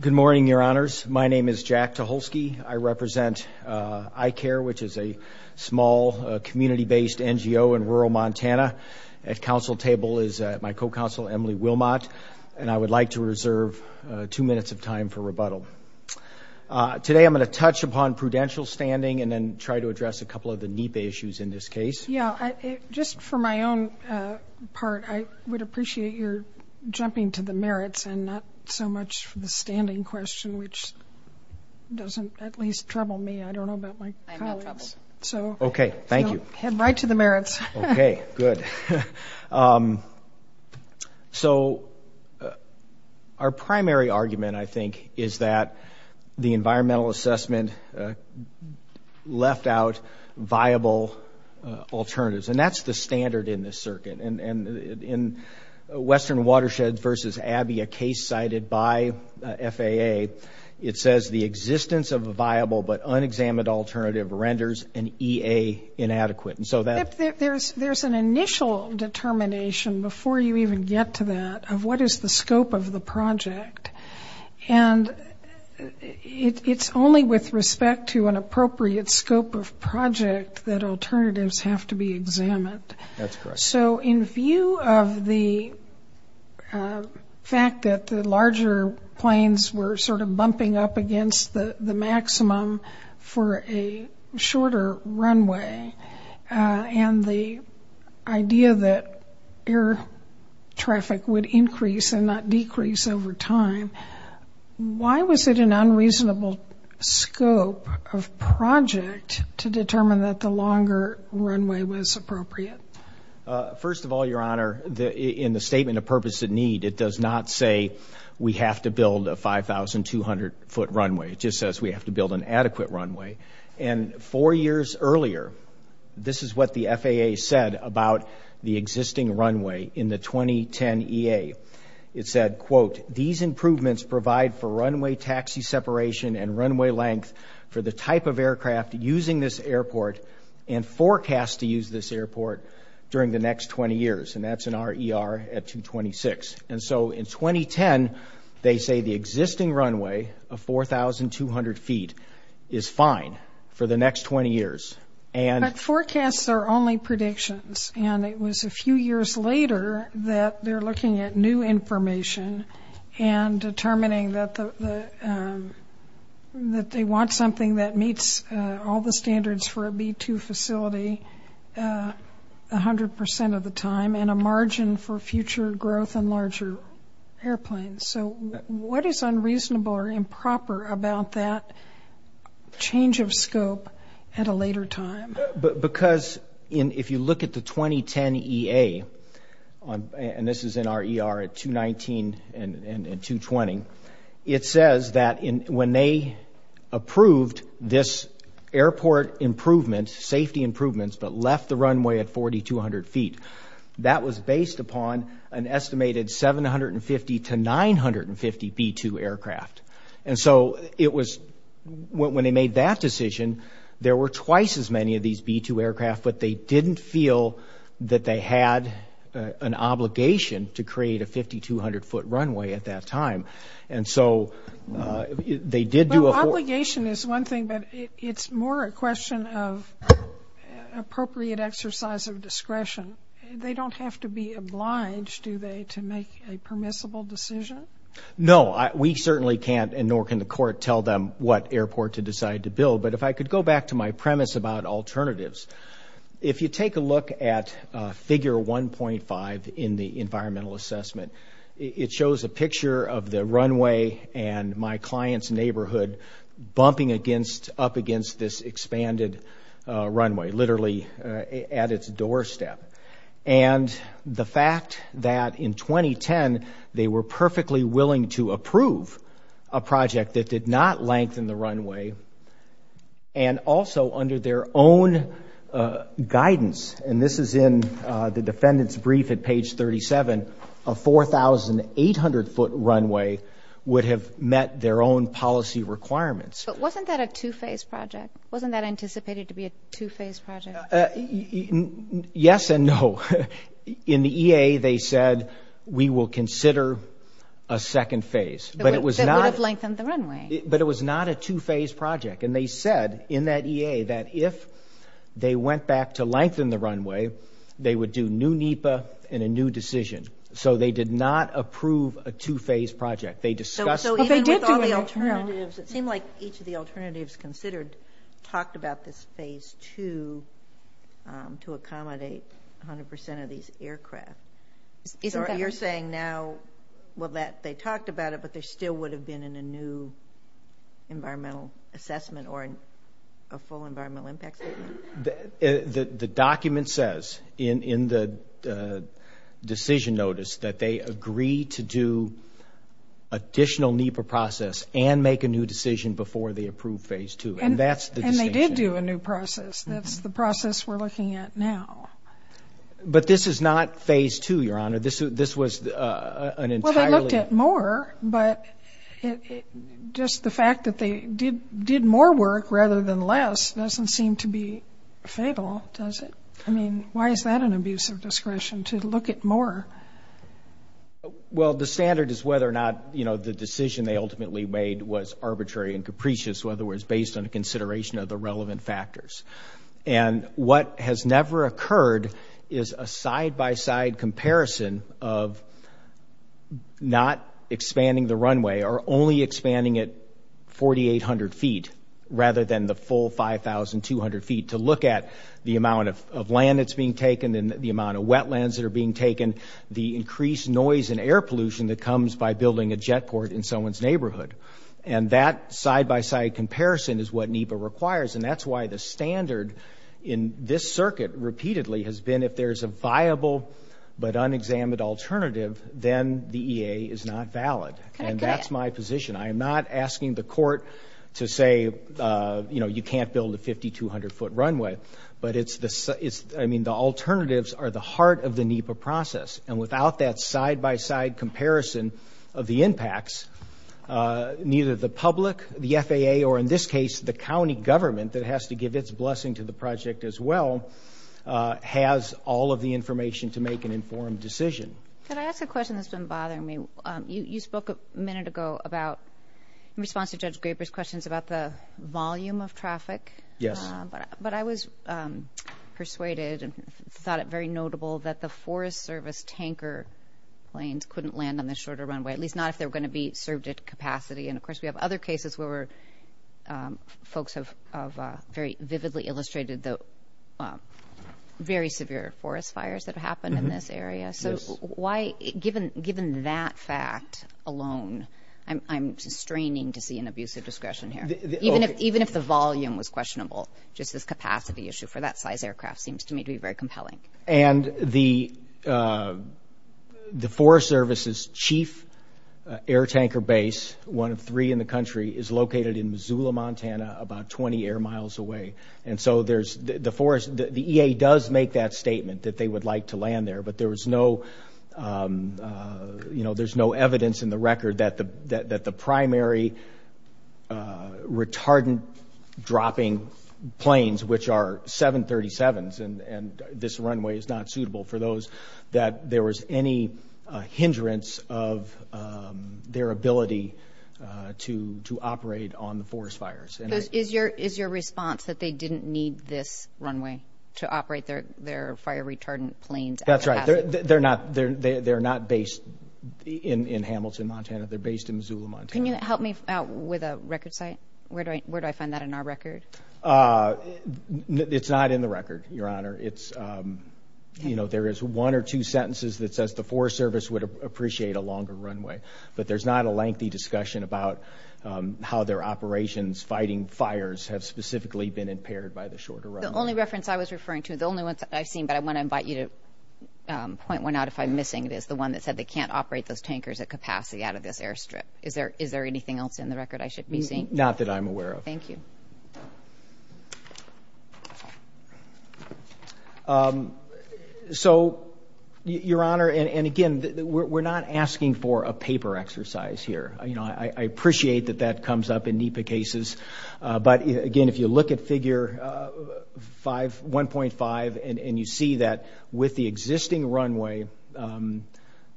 Good morning, your honors. My name is Jack Tucholsky. I represent ICARE, which is a small community-based NGO in rural Montana. At council table is my co-counsel, Emily Wilmot, and I would like to reserve two minutes of time for rebuttal. Today I'm going to touch upon prudential standing and then try to address a couple of the NEPA issues in this case. Yeah, just for my own part, I would appreciate your jumping to the merits and not so much for the standing question, which doesn't at least trouble me. I don't know about my colleagues. I'm not troubled. Okay, thank you. So head right to the merits. Okay, good. So our primary argument, I think, is that the environmental assessment left out viable alternatives, and that's the standard in this circuit. And in Western Watershed v. Abbey, a case cited by FAA, it says the existence of a viable but unexamined alternative renders an EA inadequate. There's an initial determination before you even get to that of what is the scope of the project, and it's only with respect to an appropriate scope of project that alternatives have to be examined. That's correct. So in view of the fact that the larger planes were sort of bumping up against the maximum for a shorter runway and the idea that air traffic would increase and not decrease over time, why was it an unreasonable scope of project to determine that the longer runway was appropriate? First of all, Your Honor, in the statement of purpose and need, it does not say we have to build a 5,200-foot runway. It just says we have to build an adequate runway. And four years earlier, this is what the FAA said about the existing runway in the 2010 EA. It said, quote, these improvements provide for runway taxi separation and runway length for the type of aircraft using this airport and forecast to use this airport during the next 20 years. And that's an RER at 226. And so in 2010, they say the existing runway of 4,200 feet is fine for the next 20 years. But forecasts are only predictions. And it was a few years later that they're looking at new information and determining that they want something that meets all the standards for a B-2 facility 100 percent of the time and a margin for future growth in larger airplanes. So what is unreasonable or improper about that change of scope at a later time? Because if you look at the 2010 EA, and this is an RER at 219 and 220, it says that when they approved this airport improvement, safety improvements, but left the runway at 4,200 feet, that was based upon an estimated 750 to 950 B-2 aircraft. And so it was when they made that decision, there were twice as many of these B-2 aircraft, but they didn't feel that they had an obligation to create a 5,200-foot runway at that time. Well, obligation is one thing, but it's more a question of appropriate exercise of discretion. They don't have to be obliged, do they, to make a permissible decision? No, we certainly can't, and nor can the court tell them what airport to decide to build. But if I could go back to my premise about alternatives, if you take a look at figure 1.5 in the environmental assessment, it shows a picture of the runway and my client's neighborhood bumping up against this expanded runway, literally at its doorstep. And the fact that in 2010 they were perfectly willing to approve a project that did not lengthen the runway, and also under their own guidance, and this is in the defendant's brief at page 37, a 4,800-foot runway would have met their own policy requirements. But wasn't that a two-phase project? Wasn't that anticipated to be a two-phase project? Yes and no. In the EA, they said, we will consider a second phase. That would have lengthened the runway. But it was not a two-phase project. And they said in that EA that if they went back to lengthen the runway, they would do new NEPA and a new decision. So they did not approve a two-phase project. They discussed the alternatives. It seemed like each of the alternatives considered talked about this phase two to accommodate 100% of these aircraft. So you're saying now, well, they talked about it, but there still would have been a new environmental assessment or a full environmental impact statement? The document says in the decision notice that they agree to do additional NEPA process and make a new decision before they approve phase two. And that's the distinction. And they did do a new process. That's the process we're looking at now. But this is not phase two, Your Honor. This was an entirely – Well, they looked at more, but just the fact that they did more work rather than less doesn't seem to be fatal, does it? I mean, why is that an abuse of discretion to look at more? Well, the standard is whether or not, you know, the decision they ultimately made was arbitrary and capricious, whether it was based on a consideration of the relevant factors. And what has never occurred is a side-by-side comparison of not expanding the runway or only expanding it 4,800 feet rather than the full 5,200 feet to look at the amount of land that's being taken and the amount of wetlands that are being taken, the increased noise and air pollution that comes by building a jet port in someone's neighborhood. And that side-by-side comparison is what NEPA requires. And that's why the standard in this circuit repeatedly has been, if there's a viable but unexamined alternative, then the EA is not valid. And that's my position. I am not asking the court to say, you know, you can't build a 5,200-foot runway. But it's – I mean, the alternatives are the heart of the NEPA process. And without that side-by-side comparison of the impacts, neither the public, the FAA, or in this case, the county government that has to give its blessing to the project as well, has all of the information to make an informed decision. Could I ask a question that's been bothering me? You spoke a minute ago about, in response to Judge Graber's questions, about the volume of traffic. Yes. But I was persuaded and thought it very notable that the Forest Service tanker planes couldn't land on the shorter runway, at least not if they were going to be served at capacity. And, of course, we have other cases where folks have very vividly illustrated the very severe forest fires that happened in this area. So why – given that fact alone, I'm straining to see an abuse of discretion here. Even if the volume was questionable, just this capacity issue for that size aircraft seems to me to be very compelling. And the Forest Service's chief air tanker base, one of three in the country, is located in Missoula, Montana, about 20 air miles away. And so there's – the EA does make that statement that they would like to land there, but there's no evidence in the record that the primary retardant-dropping planes, which are 737s and this runway is not suitable for those, that there was any hindrance of their ability to operate on the forest fires. Is your response that they didn't need this runway to operate their fire-retardant planes? That's right. They're not based in Hamilton, Montana. They're based in Missoula, Montana. Can you help me out with a record site? Where do I find that in our record? It's not in the record, Your Honor. There is one or two sentences that says the Forest Service would appreciate a longer runway, but there's not a lengthy discussion about how their operations fighting fires have specifically been impaired by the shorter runway. The only reference I was referring to, the only one that I've seen, but I want to invite you to point one out if I'm missing it, is the one that said they can't operate those tankers at capacity out of this airstrip. Is there anything else in the record I should be seeing? Not that I'm aware of. Thank you. So, Your Honor, and again, we're not asking for a paper exercise here. I appreciate that that comes up in NEPA cases. But, again, if you look at Figure 1.5 and you see that with the existing runway,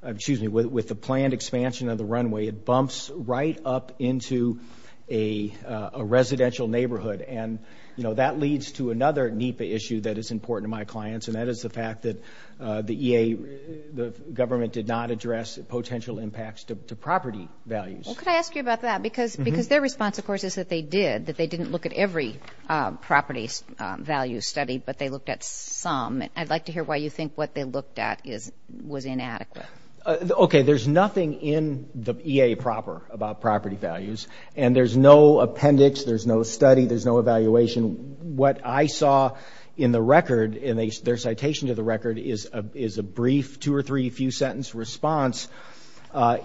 excuse me, with the planned expansion of the runway, it bumps right up into a residential neighborhood. And, you know, that leads to another NEPA issue that is important to my clients, and that is the fact that the EA, the government, did not address potential impacts to property values. Well, could I ask you about that? Because their response, of course, is that they did, that they didn't look at every property value study, but they looked at some. I'd like to hear why you think what they looked at was inadequate. Okay, there's nothing in the EA proper about property values, and there's no appendix, there's no study, there's no evaluation. What I saw in the record, in their citation to the record, is a brief two- or three-few-sentence response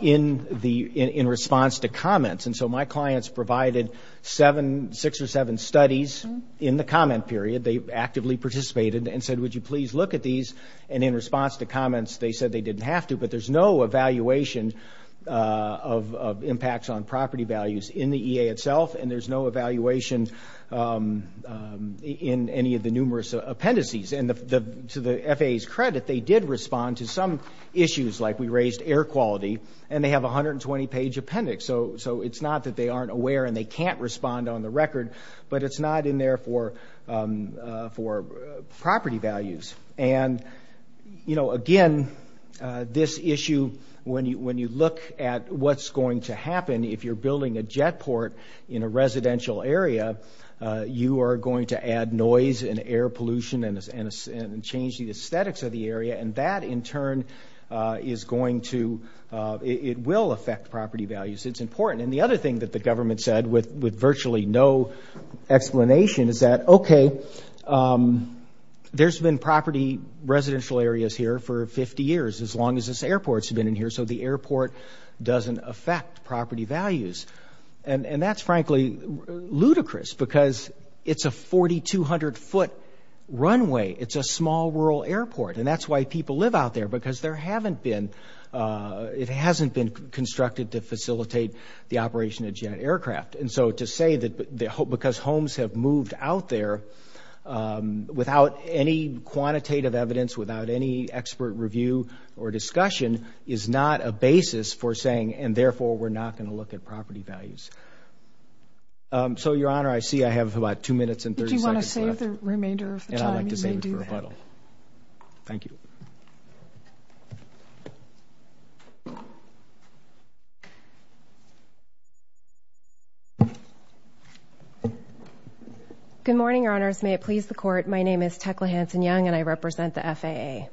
in response to comments. And so my clients provided seven, six or seven studies in the comment period. They actively participated and said, would you please look at these? And in response to comments, they said they didn't have to, but there's no evaluation of impacts on property values in the EA itself, and there's no evaluation in any of the numerous appendices. And to the FAA's credit, they did respond to some issues, like we raised air quality, and they have a 120-page appendix. So it's not that they aren't aware and they can't respond on the record, but it's not in there for property values. And, you know, again, this issue, when you look at what's going to happen, if you're building a jet port in a residential area, you are going to add noise and air pollution and change the aesthetics of the area, and that, in turn, is going to – it will affect property values. It's important. And the other thing that the government said, with virtually no explanation, is that, okay, there's been property residential areas here for 50 years, as long as this airport's been in here, so the airport doesn't affect property values. And that's, frankly, ludicrous because it's a 4,200-foot runway. It's a small rural airport, and that's why people live out there, because there haven't been – And so to say that because homes have moved out there without any quantitative evidence, without any expert review or discussion, is not a basis for saying, and therefore we're not going to look at property values. So, Your Honor, I see I have about two minutes and 30 seconds left. If you want to save the remainder of the time, you may do that. And I'd like to save it for rebuttal. Thank you. TECLA HANSEN-YOUNG Good morning, Your Honors. May it please the Court, my name is Tecla Hansen-Young, and I represent the FAA.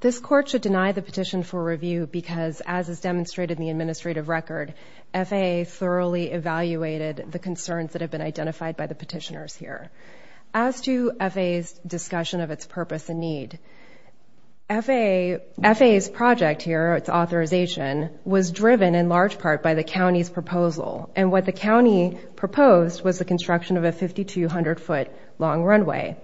This Court should deny the petition for review because, as is demonstrated in the administrative record, FAA thoroughly evaluated the concerns that have been identified by the petitioners here. As to FAA's discussion of its purpose and need, FAA's project here, its authorization, was driven in large part by the county's proposal. And what the county proposed was the construction of a 5,200-foot-long runway.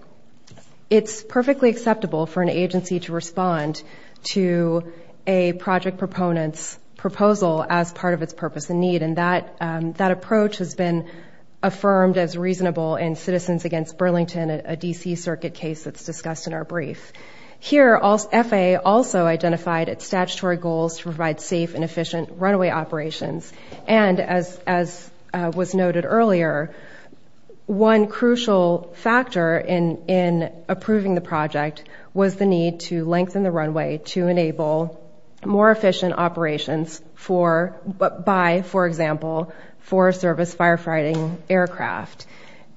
It's perfectly acceptable for an agency to respond to a project proponent's proposal as part of its purpose and need, and that approach has been affirmed as reasonable in Citizens Against Burlington, a D.C. Circuit case that's discussed in our brief. Here, FAA also identified its statutory goals to provide safe and efficient runway operations. And as was noted earlier, one crucial factor in approving the project was the need to lengthen the runway to enable more efficient operations by, for example, Forest Service firefighting aircraft.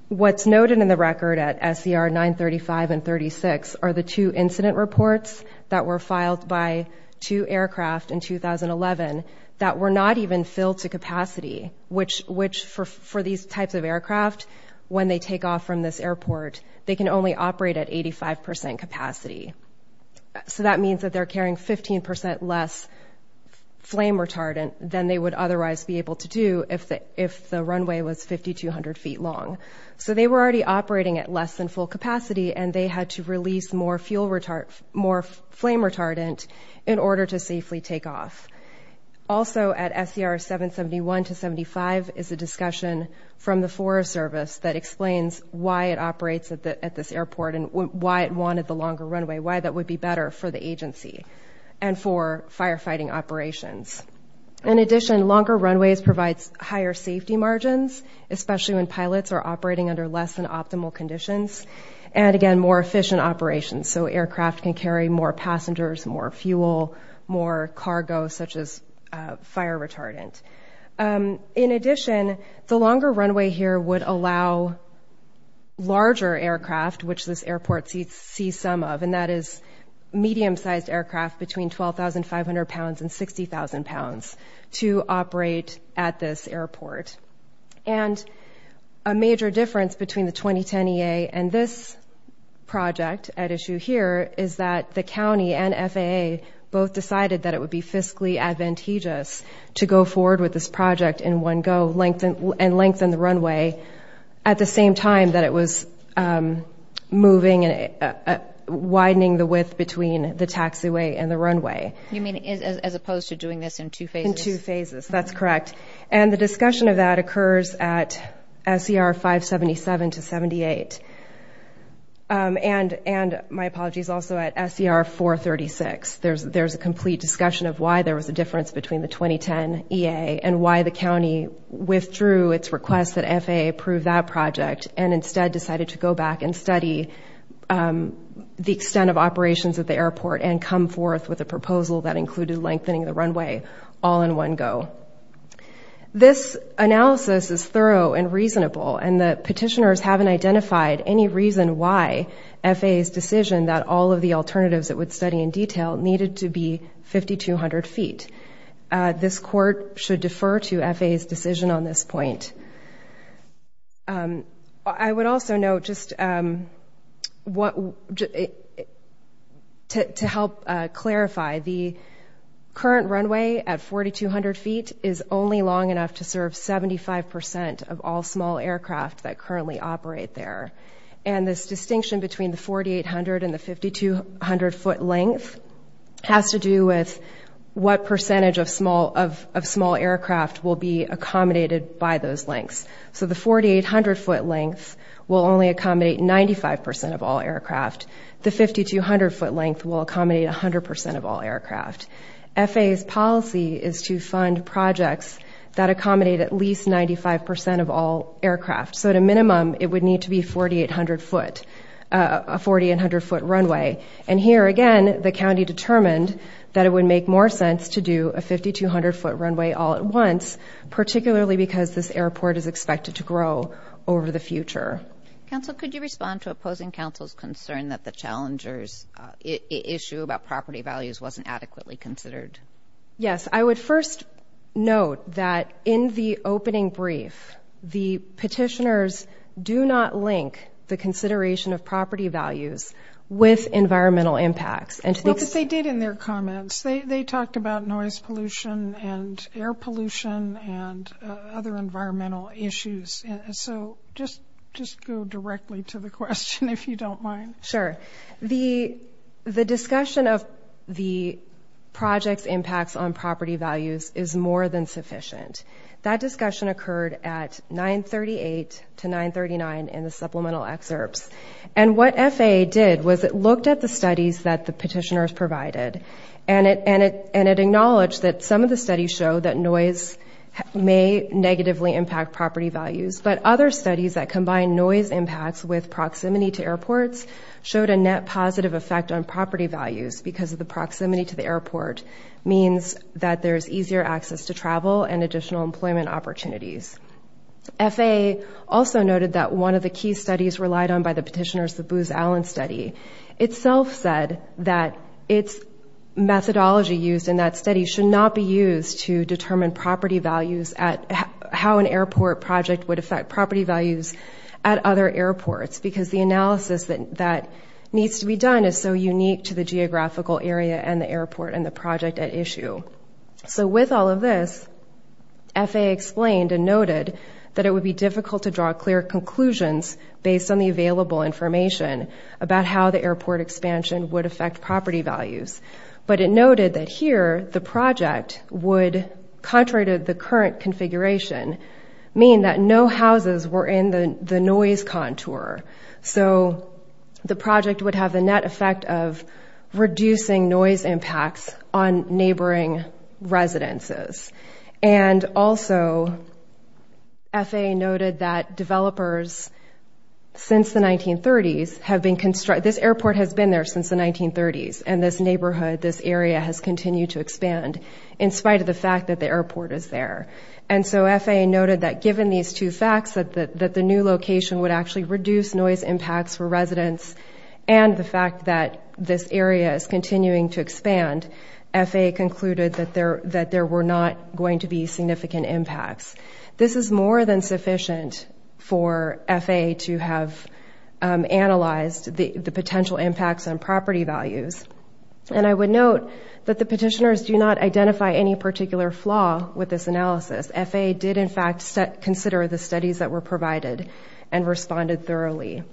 What's noted in the record at SCR 935 and 36 are the two incident reports that were filed by two aircraft in 2011 that were not even filled to capacity, which, for these types of aircraft, when they take off from this airport, they can only operate at 85 percent capacity. So that means that they're carrying 15 percent less flame retardant than they would otherwise be able to do if the runway was 5,200 feet long. So they were already operating at less than full capacity, and they had to release more flame retardant in order to safely take off. Also at SCR 771 to 75 is a discussion from the Forest Service that explains why it operates at this airport and why it wanted the longer runway, why that would be better for the agency and for firefighting operations. In addition, longer runways provides higher safety margins, especially when pilots are operating under less than optimal conditions, and, again, more efficient operations. So aircraft can carry more passengers, more fuel, more cargo, such as fire retardant. In addition, the longer runway here would allow larger aircraft, which this airport sees some of, and that is medium-sized aircraft between 12,500 pounds and 60,000 pounds, to operate at this airport. And a major difference between the 2010 EA and this project at issue here is that the county and FAA both decided that it would be fiscally advantageous to go forward with this project in one go and lengthen the runway at the same time that it was moving and widening the width between the taxiway and the runway. You mean as opposed to doing this in two phases? In two phases, that's correct. And the discussion of that occurs at SCR 577 to 78 and, my apologies, also at SCR 436. There's a complete discussion of why there was a difference between the 2010 EA and why the county withdrew its request that FAA approve that project and instead decided to go back and study the extent of operations at the airport and come forth with a proposal that included lengthening the runway all in one go. This analysis is thorough and reasonable, and the petitioners haven't identified any reason why FAA's decision that all of the alternatives it would study in detail needed to be 5,200 feet. This court should defer to FAA's decision on this point. I would also note just what, to help clarify, the current runway at 4,200 feet is only long enough to serve 75% of all small aircraft that currently operate there, and this distinction between the 4,800 and the 5,200 foot length has to do with what percentage of small aircraft will be accommodated by those lengths. So the 4,800 foot length will only accommodate 95% of all aircraft. The 5,200 foot length will accommodate 100% of all aircraft. FAA's policy is to fund projects that accommodate at least 95% of all aircraft. So at a minimum, it would need to be 4,800 foot, a 4,800 foot runway. And here, again, the county determined that it would make more sense to do a 5,200 foot runway all at once, particularly because this airport is expected to grow over the future. Counsel, could you respond to opposing counsel's concern that the challenger's issue about property values wasn't adequately considered? Yes. I would first note that in the opening brief, the petitioners do not link the consideration of property values with environmental impacts. Well, but they did in their comments. They talked about noise pollution and air pollution and other environmental issues. So just go directly to the question, if you don't mind. Sure. The discussion of the project's impacts on property values is more than sufficient. That discussion occurred at 938 to 939 in the supplemental excerpts. And what FAA did was it looked at the studies that the petitioners provided, and it acknowledged that some of the studies show that noise may negatively impact property values, but other studies that combine noise impacts with proximity to airports showed a net positive effect on property values because the proximity to the airport means that there's easier access to travel and additional employment opportunities. FAA also noted that one of the key studies relied on by the petitioners, the Booz Allen study, itself said that its methodology used in that study should not be used to determine property values at how an airport project would affect property values at other airports because the analysis that needs to be done is so unique to the geographical area and the airport and the project at issue. So with all of this, FAA explained and noted that it would be difficult to draw clear conclusions based on the available information about how the airport expansion would affect property values. But it noted that here the project would, contrary to the current configuration, mean that no houses were in the noise contour. So the project would have the net effect of reducing noise impacts on neighboring residences. And also, FAA noted that developers since the 1930s have been constructed, this airport has been there since the 1930s, and this neighborhood, this area has continued to expand in spite of the fact that the airport is there. And so FAA noted that given these two facts, that the new location would actually reduce noise impacts for residents and the fact that this area is continuing to expand, FAA concluded that there were not going to be significant impacts. This is more than sufficient for FAA to have analyzed the potential impacts on property values. And I would note that the petitioners do not identify any particular flaw with this analysis. FAA did in fact consider the studies that were provided and responded thoroughly.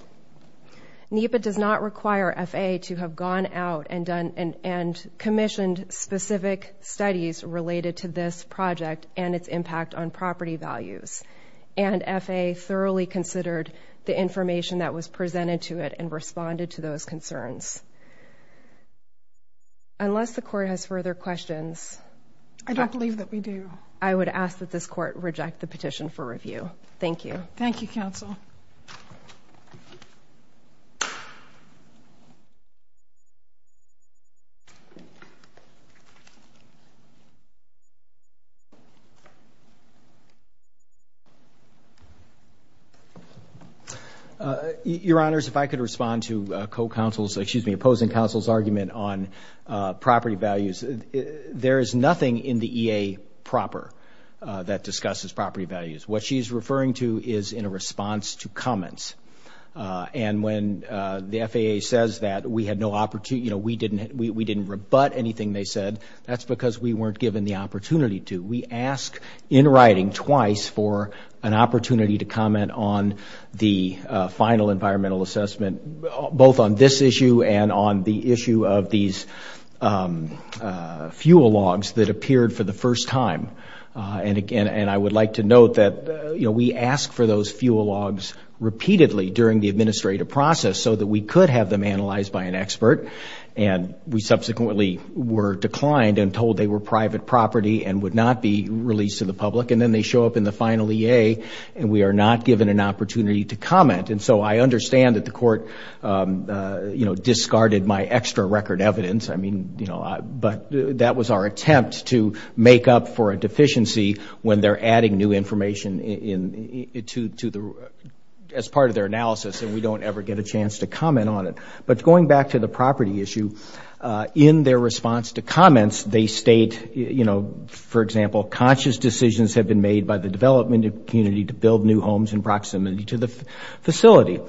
NEPA does not require FAA to have gone out and commissioned specific studies related to this project and its impact on property values. And FAA thoroughly considered the information that was presented to it and responded to those concerns. Unless the court has further questions... I don't believe that we do. I would ask that this court reject the petition for review. Thank you. Thank you, counsel. Your Honors, if I could respond to opposing counsel's argument on property values. There is nothing in the EA proper that discusses property values. What she's referring to is in a response to comments. And when the FAA says that we didn't rebut anything they said, that's because we weren't given the opportunity to. We ask in writing twice for an opportunity to comment on the final environmental assessment, both on this issue and on the issue of these fuel logs that appeared for the first time. And I would like to note that we ask for those fuel logs repeatedly during the administrative process so that we could have them analyzed by an expert. And we subsequently were declined and told they were private property and would not be released to the public. And then they show up in the final EA and we are not given an opportunity to comment. And so I understand that the court, you know, discarded my extra record evidence. I mean, you know, but that was our attempt to make up for a deficiency when they're adding new information as part of their analysis and we don't ever get a chance to comment on it. But going back to the property issue, in their response to comments they state, you know, for example, conscious decisions have been made by the development community to build new homes in proximity to the facility.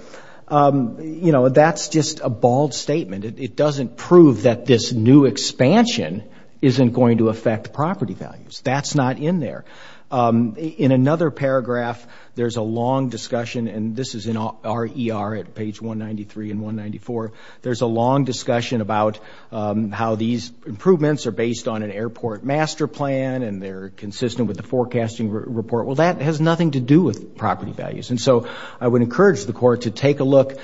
You know, that's just a bald statement. It doesn't prove that this new expansion isn't going to affect property values. That's not in there. In another paragraph there's a long discussion, and this is in RER at page 193 and 194, there's a long discussion about how these improvements are based on an airport master plan and they're consistent with the forecasting report. Well, that has nothing to do with property values. And so I would encourage the court to take a look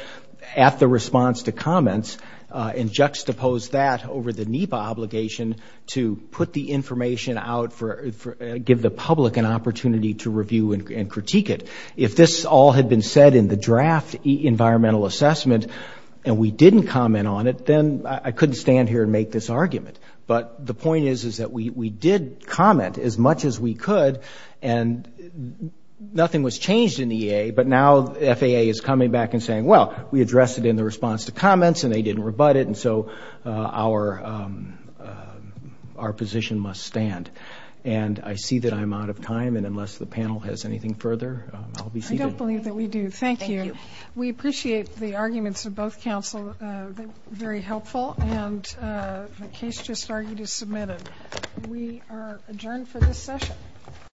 at the response to comments and juxtapose that over the NEPA obligation to put the information out, give the public an opportunity to review and critique it. If this all had been said in the draft environmental assessment and we didn't comment on it, then I couldn't stand here and make this argument. But the point is that we did comment as much as we could and nothing was changed in the EA, but now the FAA is coming back and saying, well, we addressed it in the response to comments and they didn't rebut it, and so our position must stand. And I see that I'm out of time, and unless the panel has anything further, I'll be seated. I don't believe that we do. Thank you. We appreciate the arguments of both counsel. They're very helpful, and the case just argued is submitted. We are adjourned for this session.